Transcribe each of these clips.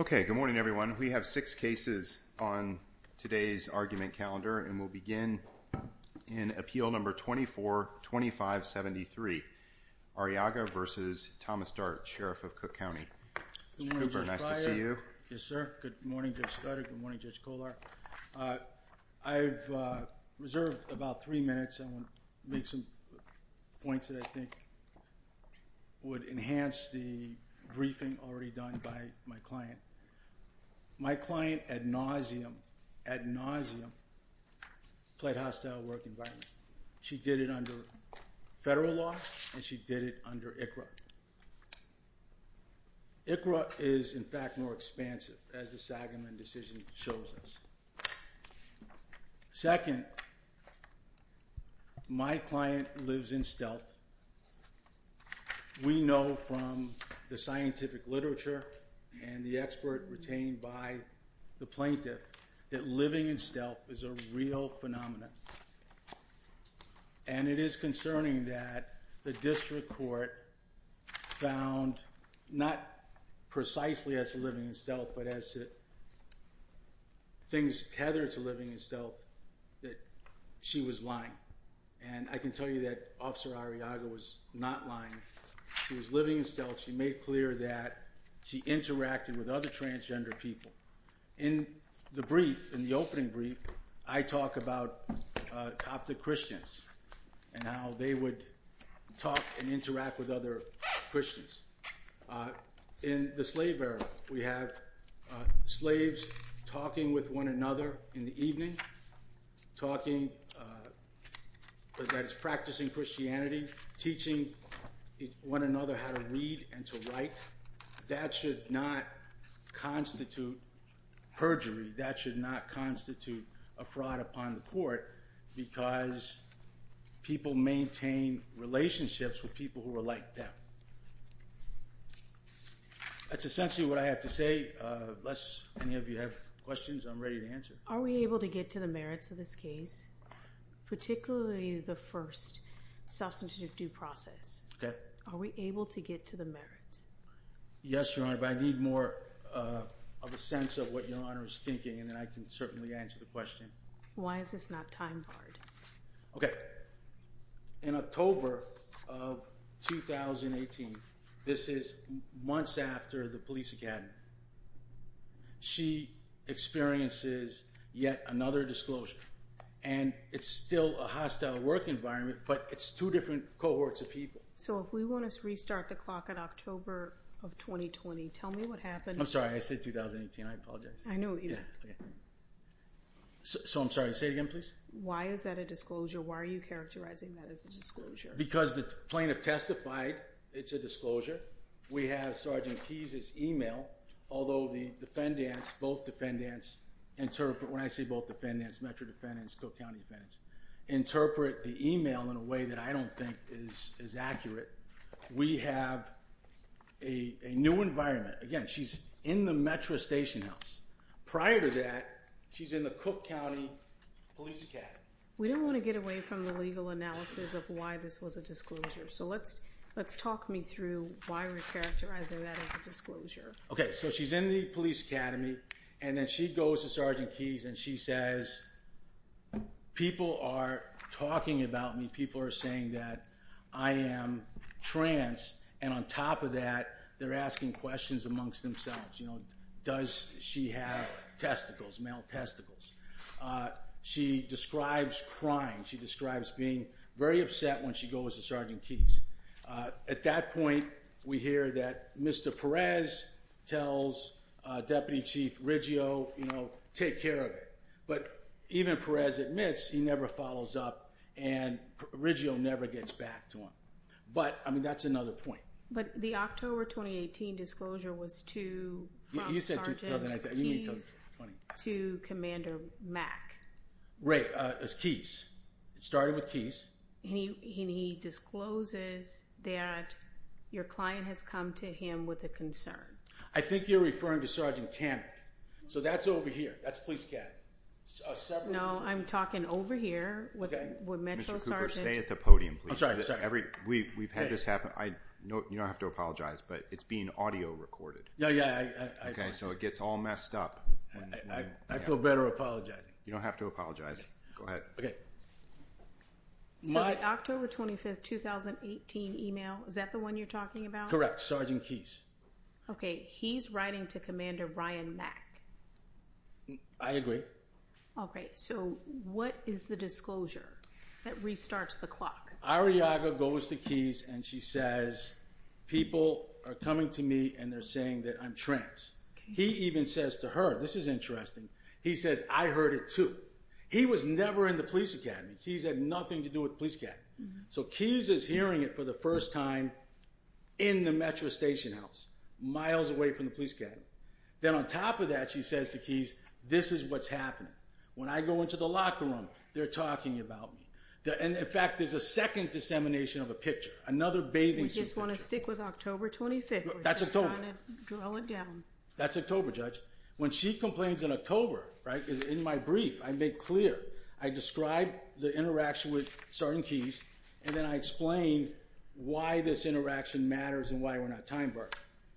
Okay, good morning, everyone. We have six cases on today's argument calendar and we'll begin in Appeal No. 242573, Arriaga v. Thomas Dart, Sheriff of Cook County. Cooper, nice to see you. Yes, sir. Good morning, Judge Stoddard. Good morning, Judge Kolar. I've served about three minutes. I want to make some points that I think would enhance the briefing already done by my client. My client, ad nauseam, played hostile work environment. She did it under federal law and she did it under ICRA. ICRA is, in fact, more expansive as the Sagamon decision shows us. Second, my client lives in stealth. We know from the scientific literature and the expert retained by the plaintiff that living in stealth is a real phenomenon. And it is concerning that the district court found, not precisely as to living in stealth, but as to things tethered to living in stealth, that she was lying. And I can tell you that Officer Arriaga was not lying. She was living in stealth. She made clear that she interacted with other transgender people. In the brief, in the opening brief, I talk about Coptic Christians and how they would talk and interact with other Christians. In the slave era, we have slaves talking with one another in the evening, talking, that is practicing Christianity, teaching one another how to read and to write. That should not constitute perjury. That should not constitute a fraud upon the court because people maintain relationships with people who are like them. That's essentially what I have to say. Unless any of you have questions, I'm ready to answer. Are we able to get to the merits of this case, particularly the first substantive due process? Okay. Are we able to get to the merits? Yes, Your Honor, but I need more of a sense of what Your Honor is thinking and then I can certainly answer the question. Why is this not time-barred? Okay. In October of 2018, this is months after the police academy, she experiences yet another disclosure and it's still a hostile work environment, but it's two different cohorts of people. So if we want to restart the clock at October of 2020, tell me what happened. I'm sorry, I said 2018. I apologize. I know, either. So I'm sorry, say it again, please. Why is that a disclosure? Why are you characterizing that as a disclosure? Because the plaintiff testified it's a disclosure. We have Sergeant Keyes' email, although the defendants, both defendants interpret, when I say both defendants, Metro defendants, Cook County defendants, interpret the email in a way that I don't think is accurate. We have a new environment. Again, she's in the Metro station house. Prior to that, she's in the Cook County police academy. We don't want to get away from the legal analysis of why this was a disclosure. So let's talk me through why we're characterizing that as a disclosure. Okay, so she's in the police academy and then she goes to Sergeant Keyes and she says, people are talking about me. People are saying that I am trans. And on top of that, they're asking questions amongst themselves. Does she have testicles, male testicles? She describes crying. She describes being very upset when she goes to Sergeant Keyes. At that point, we hear that Mr. Perez tells Deputy Chief Riggio, take care of it. But even Perez admits he never follows up and Riggio never gets back to him. But I mean, that's another point. But the October 2018 disclosure was to Sergeant Keyes to Commander Mack. Right, it was Keyes. It started with Keyes. And he discloses that your client has come to him with a concern. I think you're referring to Sergeant Kammack. So that's over here. That's police academy. No, I'm talking over here with Metro Sergeant. Mr. Cooper, stay at the podium, please. We've had this happen. You don't have to apologize, but it's being audio recorded. Yeah, yeah. Okay, so it gets all messed up. I feel better apologizing. You don't have to apologize. Go ahead. So the October 25, 2018 email, is that the one you're talking about? Correct, Sergeant Keyes. Okay, he's writing to Commander Ryan Mack. I agree. Okay, so what is the disclosure that restarts the clock? Arriaga goes to Keyes and she says, people are coming to me and they're saying that I'm trans. He even says to her, this is interesting, he says, I heard it too. He was never in the police academy. Keyes had nothing to do with police academy. So Keyes is hearing it for the first time in the Metro station house, miles away from the police academy. Then on top of that, she says to Keyes, this is what's happening. When I go into the locker room, they're talking about me. In fact, there's a second dissemination of a picture, another bathing suit picture. We just want to stick with October 25th. That's October. We're just trying to drill it down. That's October, Judge. When she complains in October, right, in my brief, I make clear. I describe the interaction with Sergeant Keyes, and then I explain why this interaction matters and why we're not timebarred.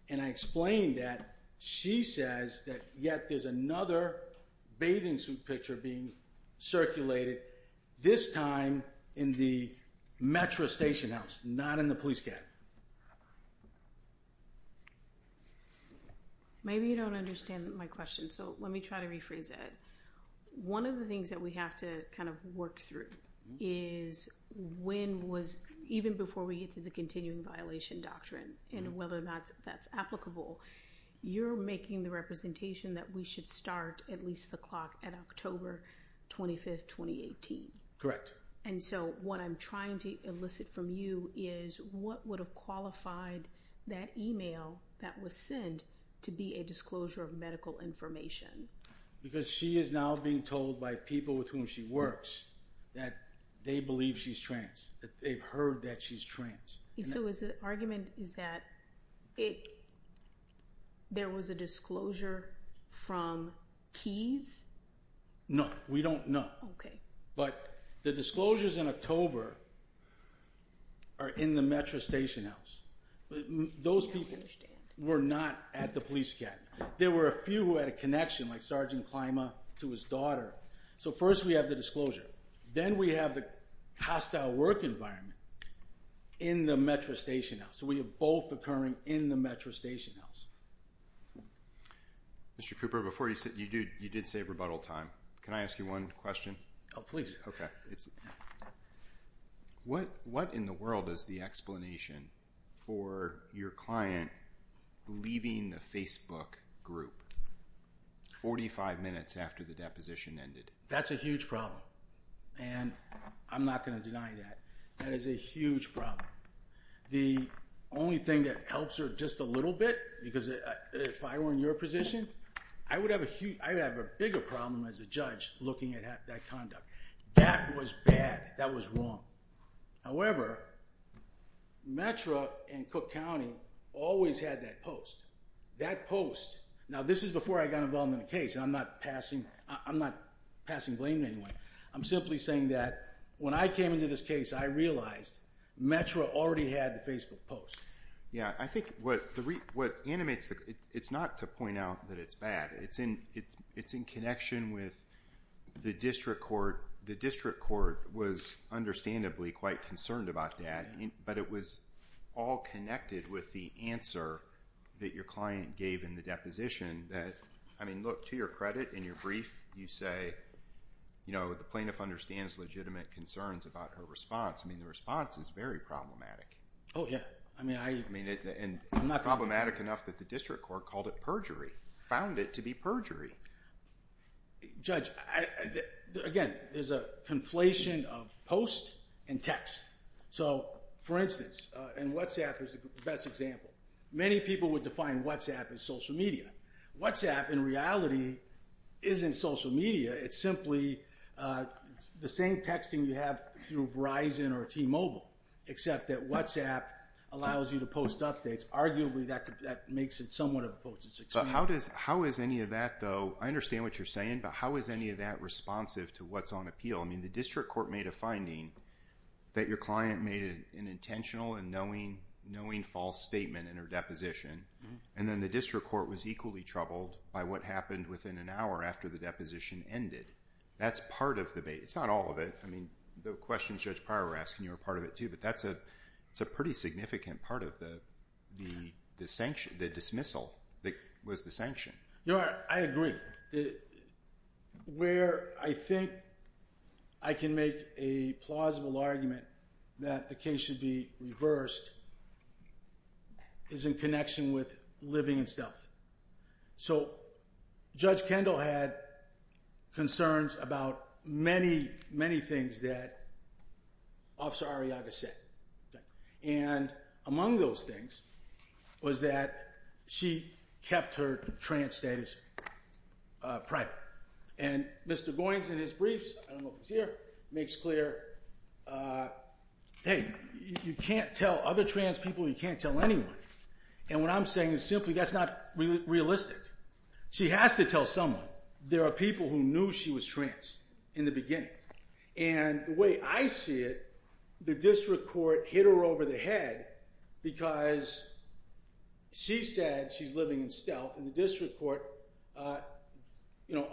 And I explain that she says that yet there's another bathing suit picture being circulated, this time in the Metro station house, not in the police academy. Maybe you don't understand my question, so let me try to rephrase it. One of the things that we have to kind of work through is when was even before we get to the continuing violation doctrine and whether or not that's applicable. You're making the representation that we should start at least the clock at October 25th, 2018. Correct. And so what I'm trying to elicit from you is what would have qualified that email that was sent to be a disclosure of medical information? Because she is now being told by people with whom she works that they believe she's trans, that they've heard that she's trans. So the argument is that there was a disclosure from Keyes? No, we don't know. Okay. But the disclosures in October are in the Metro station house. Those people were not at the police academy. There were a few who had a connection, like Sergeant Klima to his daughter. So first we have the disclosure. Then we have the hostile work environment in the Metro station house. So we have both occurring in the Metro station house. Mr. Cooper, you did say rebuttal time. Can I ask you one question? Oh, please. What in the world is the explanation for your client leaving the Facebook group 45 minutes after the deposition ended? That's a huge problem. And I'm not going to deny that. That is a huge problem. The only thing that helps her just a little bit, because if I were in your position, I would have a bigger problem as a judge looking at that conduct. That was bad. That was wrong. However, Metro and Cook County always had that post. That post, now this is before I got involved in the case, and I'm not passing blame anyway. I'm simply saying that when I came into this case, I realized Metro already had the Facebook post. Yeah, I think what animates it, it's not to point out that it's bad. It's in connection with the district court. The district court was understandably quite concerned about that, but it was all connected with the answer that your client gave in the deposition. I mean, look, to your credit, in your brief, you say the plaintiff understands legitimate concerns about her response. I mean, the response is very problematic. Oh, yeah. I mean, problematic enough that the district court called it perjury, found it to be perjury. Judge, again, there's a conflation of post and text. For instance, and WhatsApp is the best example. Many people would define WhatsApp as social media. WhatsApp, in reality, isn't social media. It's simply the same texting you have through Verizon or T-Mobile, except that WhatsApp allows you to post updates. Arguably, that makes it somewhat of a post. How is any of that, though? I understand what you're saying, but how is any of that responsive to what's on appeal? I mean, the district court made a finding that your client made an intentional and knowing false statement in her deposition, and then the district court was equally troubled by what happened within an hour after the deposition ended. That's part of the debate. It's not all of it. I mean, the questions Judge Pryor was asking, you were part of it, too, but that's a pretty significant part of the dismissal that was the sanction. I agree. Where I think I can make a plausible argument that the case should be reversed is in connection with living in stealth. So Judge Kendall had concerns about many, many things that Officer Arriaga said. And among those things was that she kept her trans status private. And Mr. Goins, in his briefs, I don't know if he's here, makes clear, hey, you can't tell other trans people, you can't tell anyone. And what I'm saying is simply that's not realistic. She has to tell someone. There are people who knew she was trans in the beginning. And the way I see it, the district court hit her over the head because she said she's living in stealth. And the district court,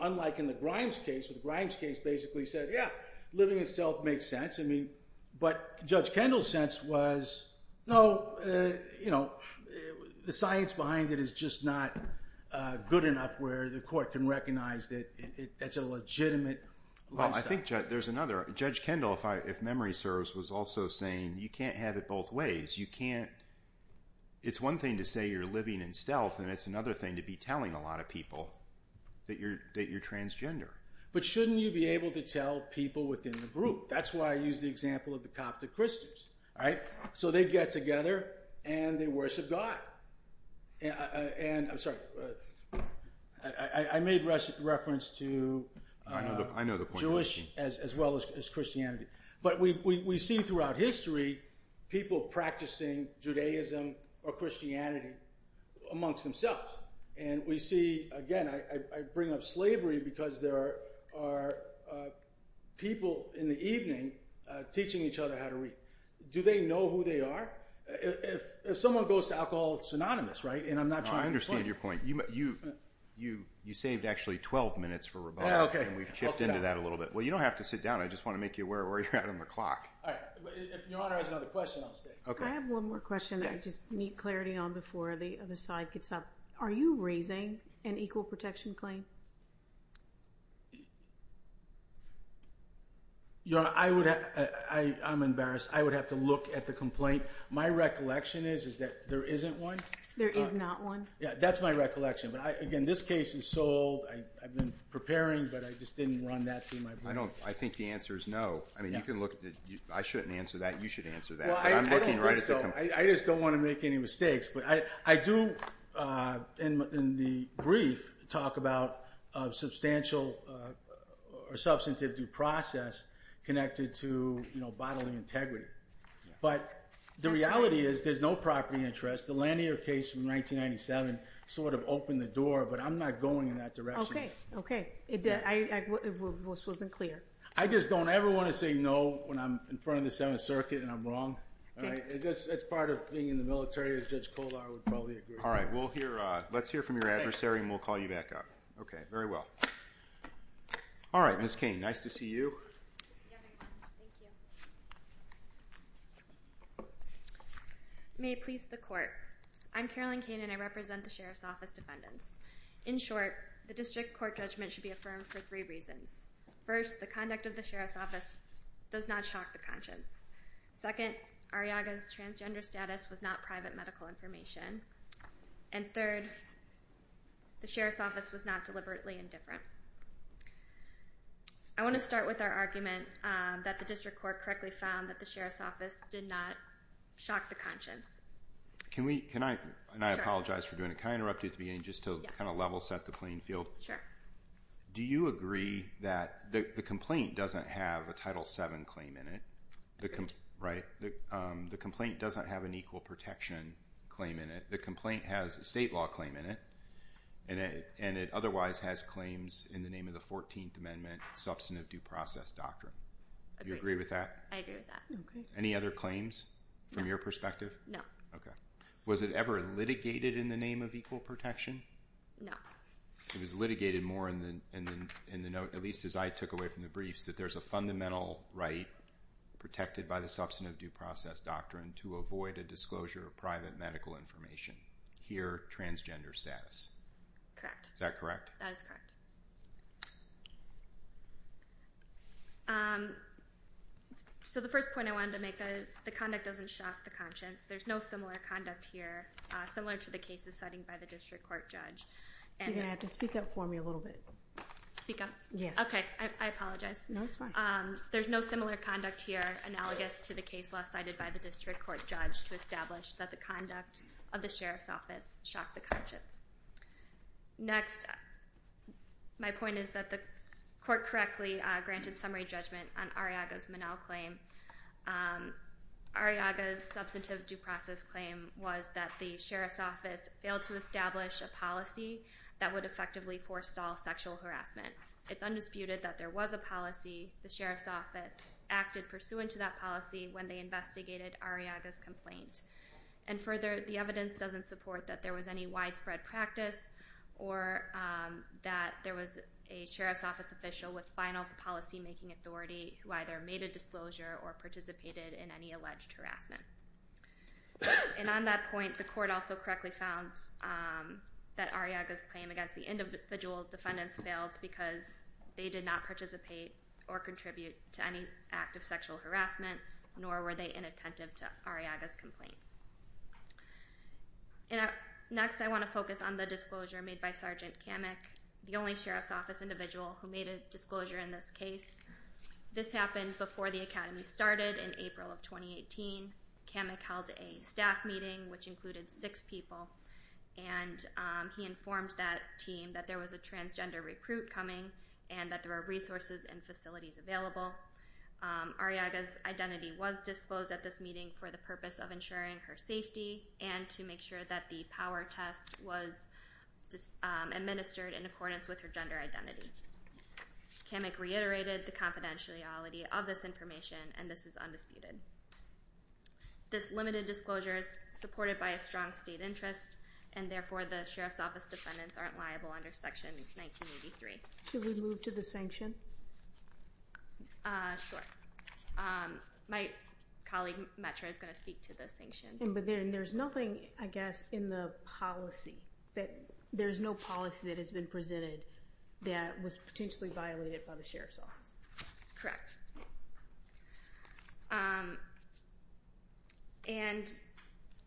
unlike in the Grimes case, where the Grimes case basically said, yeah, living in stealth makes sense. But Judge Kendall's sense was, no, the science behind it is just not good enough where the court can recognize that that's a legitimate reason. Well, I think there's another. Judge Kendall, if memory serves, was also saying you can't have it both ways. You can't – it's one thing to say you're living in stealth, and it's another thing to be telling a lot of people that you're transgender. But shouldn't you be able to tell people within the group? That's why I use the example of the Coptic Christians, right? So they get together and they worship God. I'm sorry. I made reference to Jewish as well as Christianity. But we see throughout history people practicing Judaism or Christianity amongst themselves. And we see – again, I bring up slavery because there are people in the evening teaching each other how to read. Do they know who they are? If someone goes to alcohol, synonymous, right? And I'm not trying to – I understand your point. You saved actually 12 minutes for rebuttal. And we've chipped into that a little bit. Well, you don't have to sit down. I just want to make you aware where you're at on the clock. All right. If Your Honor has another question, I'll stay. I have one more question that I just need clarity on before the other side gets up. Are you raising an equal protection claim? Your Honor, I would – I'm embarrassed. I would have to look at the complaint. My recollection is that there isn't one. There is not one? Yeah, that's my recollection. But, again, this case is sold. I've been preparing, but I just didn't run that through my brain. I think the answer is no. I mean, you can look – I shouldn't answer that. You should answer that. I'm looking right at the complaint. I don't think so. I just don't want to make any mistakes. But I do, in the brief, talk about substantial or substantive due process connected to bodily integrity. But the reality is there's no property interest. The Lanier case from 1997 sort of opened the door, but I'm not going in that direction. Okay. This wasn't clear. I just don't ever want to say no when I'm in front of the Seventh Circuit and I'm wrong. That's part of being in the military. Judge Coldar would probably agree. All right. Let's hear from your adversary, and we'll call you back up. Okay. Very well. All right. Ms. Cain, nice to see you. May it please the Court. I'm Carolyn Cain, and I represent the Sheriff's Office defendants. In short, the district court judgment should be affirmed for three reasons. First, the conduct of the Sheriff's Office does not shock the conscience. Second, Arriaga's transgender status was not private medical information. And third, the Sheriff's Office was not deliberately indifferent. I want to start with our argument that the district court correctly found that the Sheriff's Office did not shock the conscience. Can we, can I, and I apologize for doing it, can I interrupt you at the beginning just to kind of level set the playing field? Sure. Do you agree that the complaint doesn't have a Title VII claim in it? Right. The complaint doesn't have an equal protection claim in it. The complaint has a state law claim in it, and it otherwise has claims in the name of the 14th Amendment substantive due process doctrine. Do you agree with that? I agree with that. Any other claims from your perspective? No. Okay. Was it ever litigated in the name of equal protection? No. It was litigated more in the note, at least as I took away from the briefs, that there's a fundamental right protected by the substantive due process doctrine to avoid a disclosure of private medical information. Here, transgender status. Correct. Is that correct? That is correct. So the first point I wanted to make is the conduct doesn't shock the conscience. There's no similar conduct here, similar to the cases cited by the district court judge. You're going to have to speak up for me a little bit. Speak up? Yes. Okay. I apologize. No, it's fine. There's no similar conduct here, analogous to the case law cited by the district court judge, to establish that the conduct of the sheriff's office shocked the conscience. Next, my point is that the court correctly granted summary judgment on Arriaga's Minnell claim. Arriaga's substantive due process claim was that the sheriff's office failed to establish a policy that would effectively forestall sexual harassment. It's undisputed that there was a policy the sheriff's office acted pursuant to that policy when they investigated Arriaga's complaint. And further, the evidence doesn't support that there was any widespread practice or that there was a sheriff's office official with final policy-making authority who either made a disclosure or participated in any alleged harassment. And on that point, the court also correctly found that Arriaga's claim against the individual defendants failed because they did not participate or contribute to any act of sexual harassment, nor were they inattentive to Arriaga's complaint. Next, I want to focus on the disclosure made by Sergeant Kamek, the only sheriff's office individual who made a disclosure in this case. This happened before the Academy started in April of 2018. Kamek held a staff meeting, which included six people, and he informed that team that there was a transgender recruit coming and that there were resources and facilities available. Arriaga's identity was disclosed at this meeting for the purpose of ensuring her safety and to make sure that the power test was administered in accordance with her gender identity. Kamek reiterated the confidentiality of this information, and this is undisputed. This limited disclosure is supported by a strong state interest, and therefore the sheriff's office defendants aren't liable under Section 1983. Should we move to the sanction? Sure. My colleague, Metro, is going to speak to the sanction. But there's nothing, I guess, in the policy. There's no policy that has been presented that was potentially violated by the sheriff's office. Correct. And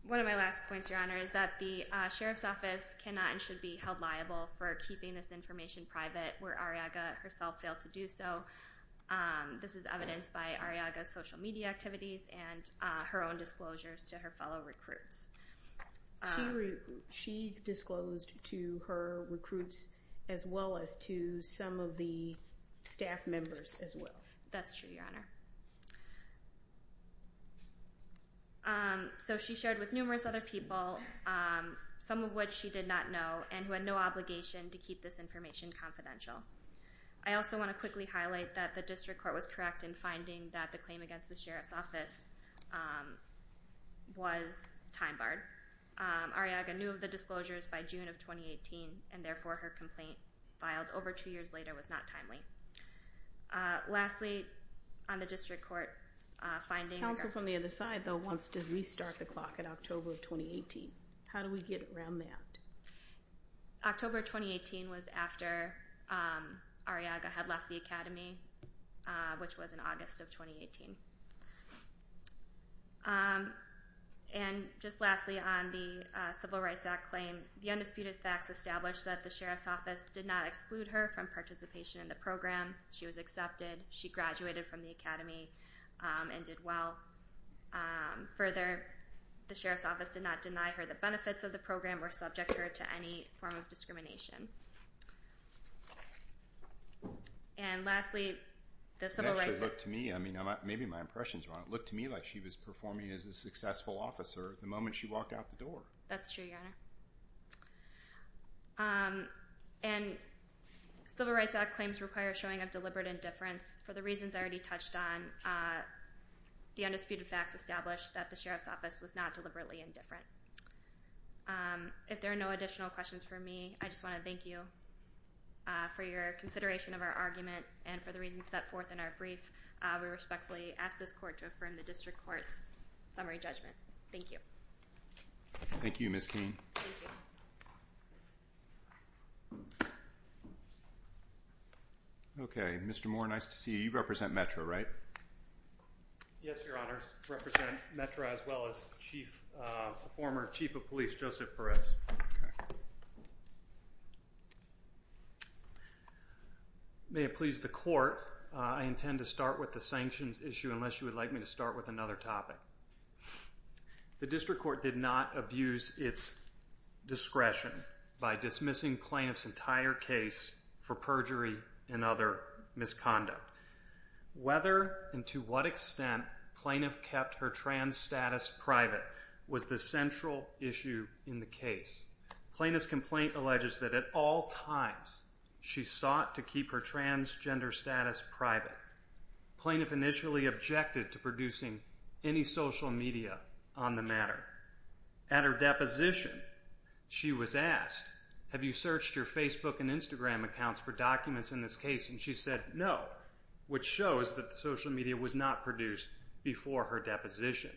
one of my last points, Your Honor, is that the sheriff's office cannot and should be held liable for keeping this information private where Arriaga herself failed to do so. This is evidenced by Arriaga's social media activities and her own disclosures to her fellow recruits. She disclosed to her recruits as well as to some of the staff members as well. That's true, Your Honor. So she shared with numerous other people, some of which she did not know, and who had no obligation to keep this information confidential. I also want to quickly highlight that the district court was correct in finding that the claim against the sheriff's office was time-barred. Arriaga knew of the disclosures by June of 2018, and therefore her complaint filed over two years later was not timely. Lastly, on the district court's finding- Counsel from the other side, though, wants to restart the clock at October of 2018. How do we get around that? October of 2018 was after Arriaga had left the academy, which was in August of 2018. And just lastly, on the Civil Rights Act claim, the undisputed facts establish that the sheriff's office did not exclude her from participation in the program. She was accepted. She graduated from the academy and did well. Further, the sheriff's office did not deny her the benefits of the program or subject her to any form of discrimination. And lastly, the Civil Rights Act- It actually looked to me, I mean, maybe my impressions are wrong, it looked to me like she was performing as a successful officer the moment she walked out the door. That's true, Your Honor. And Civil Rights Act claims require showing of deliberate indifference. For the reasons I already touched on, the undisputed facts establish that the sheriff's office was not deliberately indifferent. If there are no additional questions for me, I just want to thank you for your consideration of our argument and for the reasons set forth in our brief. We respectfully ask this court to affirm the district court's summary judgment. Thank you. Thank you, Ms. Cain. Okay, Mr. Moore, nice to see you. You represent METRA, right? Yes, Your Honor. I represent METRA as well as the former chief of police, Joseph Perez. May it please the court, I intend to start with the sanctions issue unless you would like me to start with another topic. The district court did not abuse its discretion by dismissing plaintiff's entire case for perjury and other misconduct. Whether and to what extent plaintiff kept her trans status private was the central issue in the case. Plaintiff's complaint alleges that at all times she sought to keep her transgender status private. Plaintiff initially objected to producing any social media on the matter. At her deposition, she was asked, have you searched your Facebook and Instagram accounts for documents in this case? And she said no, which shows that social media was not produced before her deposition.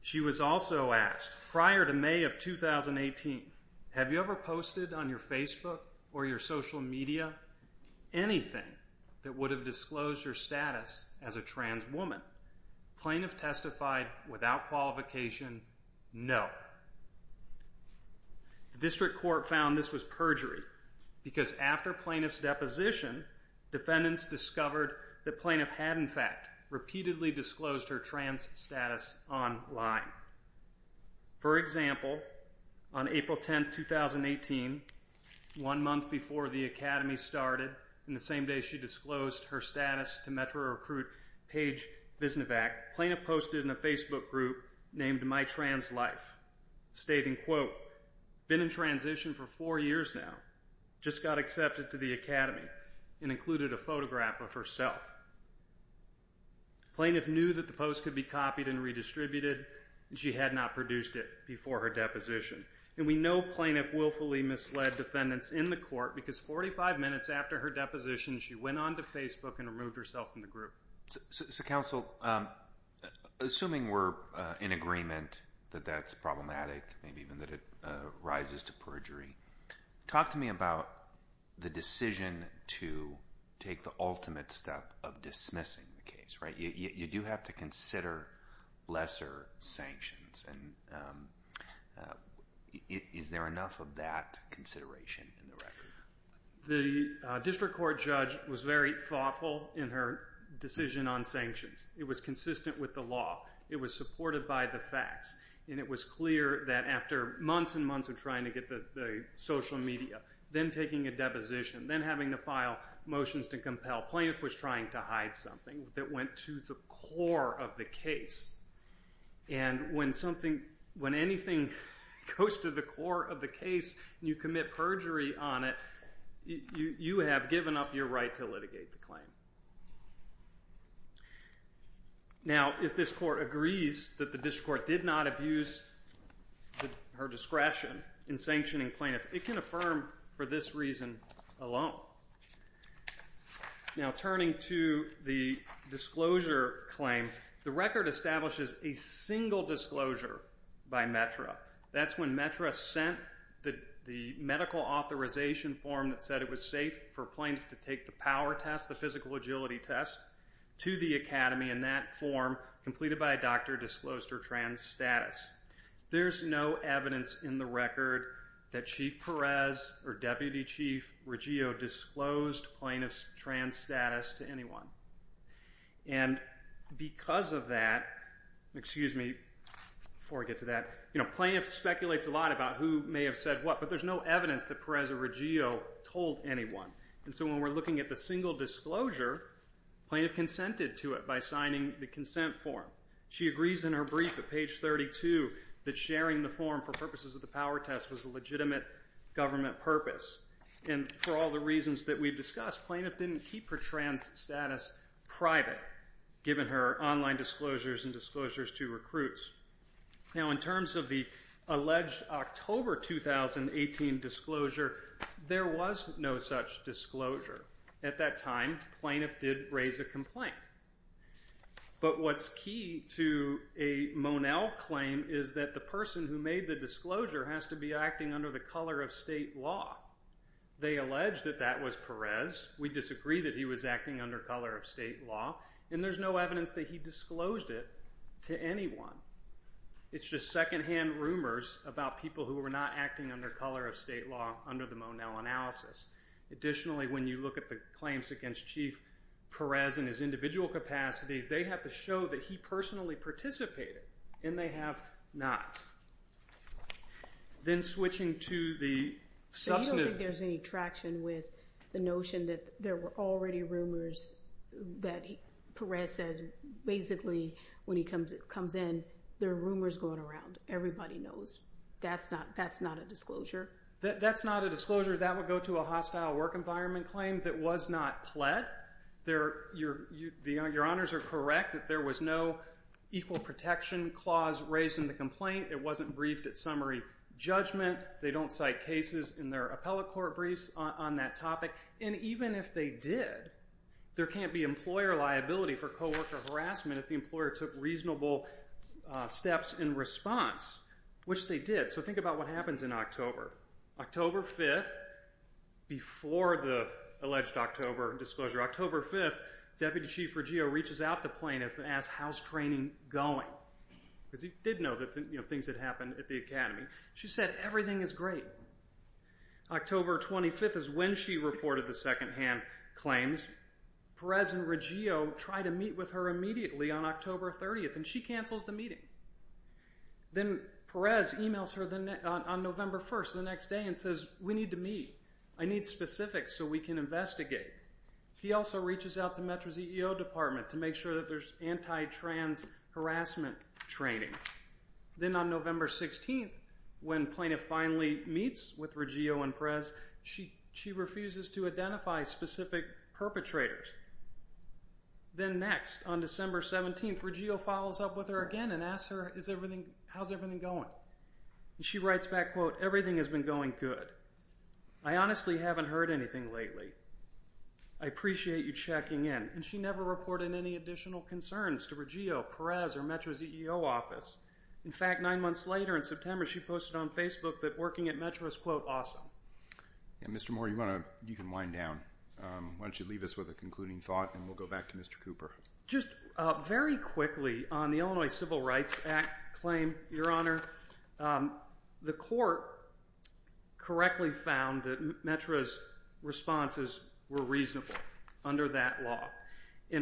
She was also asked, prior to May of 2018, have you ever posted on your Facebook or your social media anything that would have disclosed her status as a trans woman? Plaintiff testified without qualification, no. The district court found this was perjury because after plaintiff's deposition, defendants discovered that plaintiff had in fact repeatedly disclosed her trans status online. For example, on April 10, 2018, one month before the Academy started, and the same day she disclosed her status to Metro Recruit Paige Visnevac, plaintiff posted in a Facebook group named My Trans Life, stating, quote, been in transition for four years now, just got accepted to the Academy, and included a photograph of herself. Plaintiff knew that the post could be copied and redistributed, and she had not produced it before her deposition. And we know plaintiff willfully misled defendants in the court because 45 minutes after her deposition, she went on to Facebook and removed herself from the group. So, counsel, assuming we're in agreement that that's problematic, maybe even that it rises to perjury, talk to me about the decision to take the ultimate step of dismissing the case, right? You do have to consider lesser sanctions, and is there enough of that consideration in the record? The district court judge was very thoughtful in her decision on sanctions. It was consistent with the law. It was supported by the facts, and it was clear that after months and months of trying to get the social media, then taking a deposition, then having to file motions to compel, plaintiff was trying to hide something that went to the core of the case. And when anything goes to the core of the case, and you commit perjury on it, you have given up your right to litigate the claim. Now, if this court agrees that the district court did not abuse her discretion in sanctioning plaintiff, it can affirm for this reason alone. Now, turning to the disclosure claim, the record establishes a single disclosure by METRA. That's when METRA sent the medical authorization form that said it was safe for plaintiffs to take the power test, the physical agility test, to the academy in that form, completed by a doctor, disclosed her trans status. There's no evidence in the record that Chief Perez or Deputy Chief Reggio disclosed plaintiff's trans status to anyone. And because of that, excuse me, before I get to that, plaintiff speculates a lot about who may have said what, but there's no evidence that Perez or Reggio told anyone. And so when we're looking at the single disclosure, plaintiff consented to it by signing the consent form. She agrees in her brief at page 32 that sharing the form for purposes of the power test was a legitimate government purpose. And for all the reasons that we've discussed, plaintiff didn't keep her trans status private, given her online disclosures and disclosures to recruits. Now, in terms of the alleged October 2018 disclosure, there was no such disclosure. At that time, plaintiff did raise a complaint. But what's key to a Monell claim is that the person who made the disclosure has to be acting under the colour of state law. They allege that that was Perez. We disagree that he was acting under colour of state law. And there's no evidence that he disclosed it to anyone. It's just second-hand rumours about people who were not acting under colour of state law under the Monell analysis. Additionally, when you look at the claims against Chief Perez in his individual capacity, they have to show that he personally participated, and they have not. Then switching to the substantive... So you don't think there's any traction with the notion that there were already rumours that Perez says, basically, when he comes in, there are rumours going around. Everybody knows. That's not a disclosure? That's not a disclosure. That would go to a hostile work environment claim that was not pled. Your Honours are correct that there was no equal protection clause that wasn't raised in the complaint. It wasn't briefed at summary judgment. They don't cite cases in their appellate court briefs on that topic. And even if they did, there can't be employer liability for co-worker harassment if the employer took reasonable steps in response, which they did. So think about what happens in October. October 5th, before the alleged October disclosure, October 5th, Deputy Chief Reggio reaches out to plaintiffs and asks, how's training going? Because he did know things had happened at the academy. She said, everything is great. October 25th is when she reported the second-hand claims. Perez and Reggio try to meet with her immediately on October 30th, and she cancels the meeting. Then Perez emails her on November 1st, the next day, and says, we need to meet. I need specifics so we can investigate. He also reaches out to Metro's EEO department to make sure that there's anti-trans harassment training. Then on November 16th, when plaintiff finally meets with Reggio and Perez, she refuses to identify specific perpetrators. Then next, on December 17th, Reggio follows up with her again and asks her, how's everything going? She writes back, quote, everything has been going good. I honestly haven't heard anything lately. I appreciate you checking in. She never reported any additional concerns to Reggio, Perez, or Metro's EEO office. In fact, 9 months later, in September, she posted on Facebook that working at Metro is, quote, awesome. Mr. Moore, you can wind down. Why don't you leave us with a concluding thought, and we'll go back to Mr. Cooper. Just very quickly, on the Illinois Civil Rights Act claim, Your Honor, the court correctly found that Metro's responses were reasonable under that law.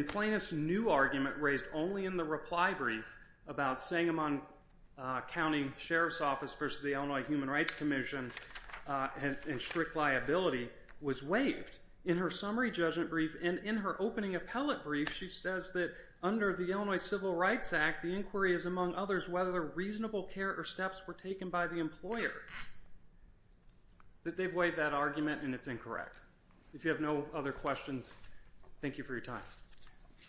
Plaintiff's new argument raised only in the reply brief about Sangamon County Sheriff's Office versus the Illinois Human Rights Commission and strict liability was waived. In her summary judgment brief and in her opening appellate brief, she says that under the Illinois Civil Rights Act, the inquiry is, among others, whether reasonable care or steps were taken by the employer. They've waived that argument, and it's incorrect. If you have no other questions, thank you for your time.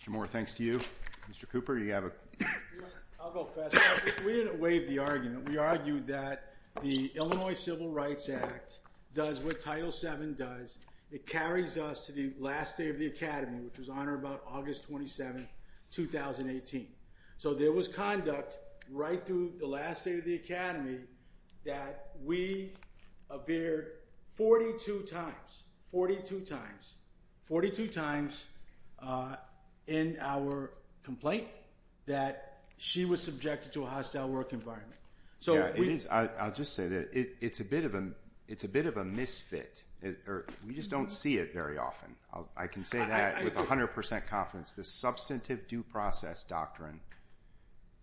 Mr. Moore, thanks to you. Mr. Cooper, you have a... I'll go fast. We didn't waive the argument. We argued that the Illinois Civil Rights Act does what Title VII does. It carries us to the last day of the academy, which was on or about August 27, 2018. So there was conduct right through the last day of the academy that we appeared 42 times... 42 times... 42 times in our complaint that she was subjected to a hostile work environment. Yeah, it is. I'll just say that it's a bit of a misfit. We just don't see it very often. I can say that with 100% confidence. This substantive due process doctrine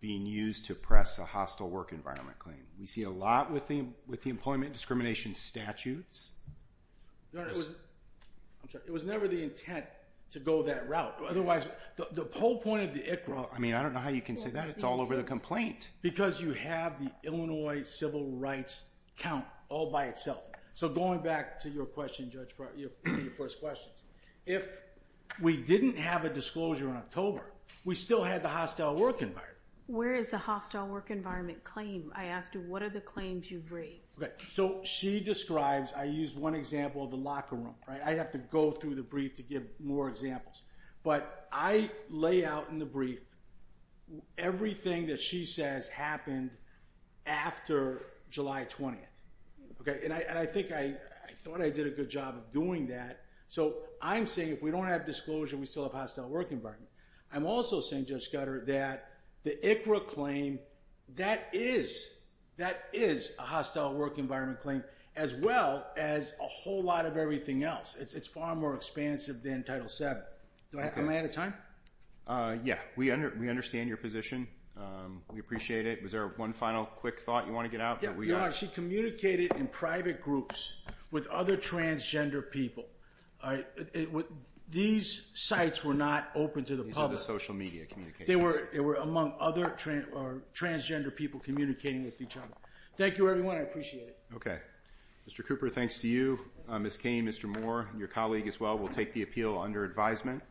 being used to press a hostile work environment claim. We see a lot with the employment discrimination statutes. It was never the intent to go that route. Otherwise, the whole point of the ICHRA... I don't know how you can say that. It's all over the complaint. Because you have the Illinois civil rights count all by itself. So going back to your first question, if we didn't have a disclosure in October, we still had the hostile work environment. Where is the hostile work environment claim? I asked you, what are the claims you've raised? So she describes... I used one example of the locker room. I'd have to go through the brief to give more examples. But I lay out in the brief everything that she says happened after July 20th. And I think I thought I did a good job of doing that. So I'm saying if we don't have disclosure, we still have hostile work environment. I'm also saying, Judge Scudder, that the ICHRA claim, that is a hostile work environment claim, as well as a whole lot of everything else. It's far more expansive than Title VII. Am I out of time? Yeah, we understand your position. We appreciate it. Was there one final quick thought you want to get out? She communicated in private groups with other transgender people. These sites were not open to the public. These are the social media communications. They were among other transgender people communicating with each other. Thank you, everyone. I appreciate it. Okay. Mr. Cooper, thanks to you. Ms. Cain, Mr. Moore, your colleague as well, will take the appeal under advisement.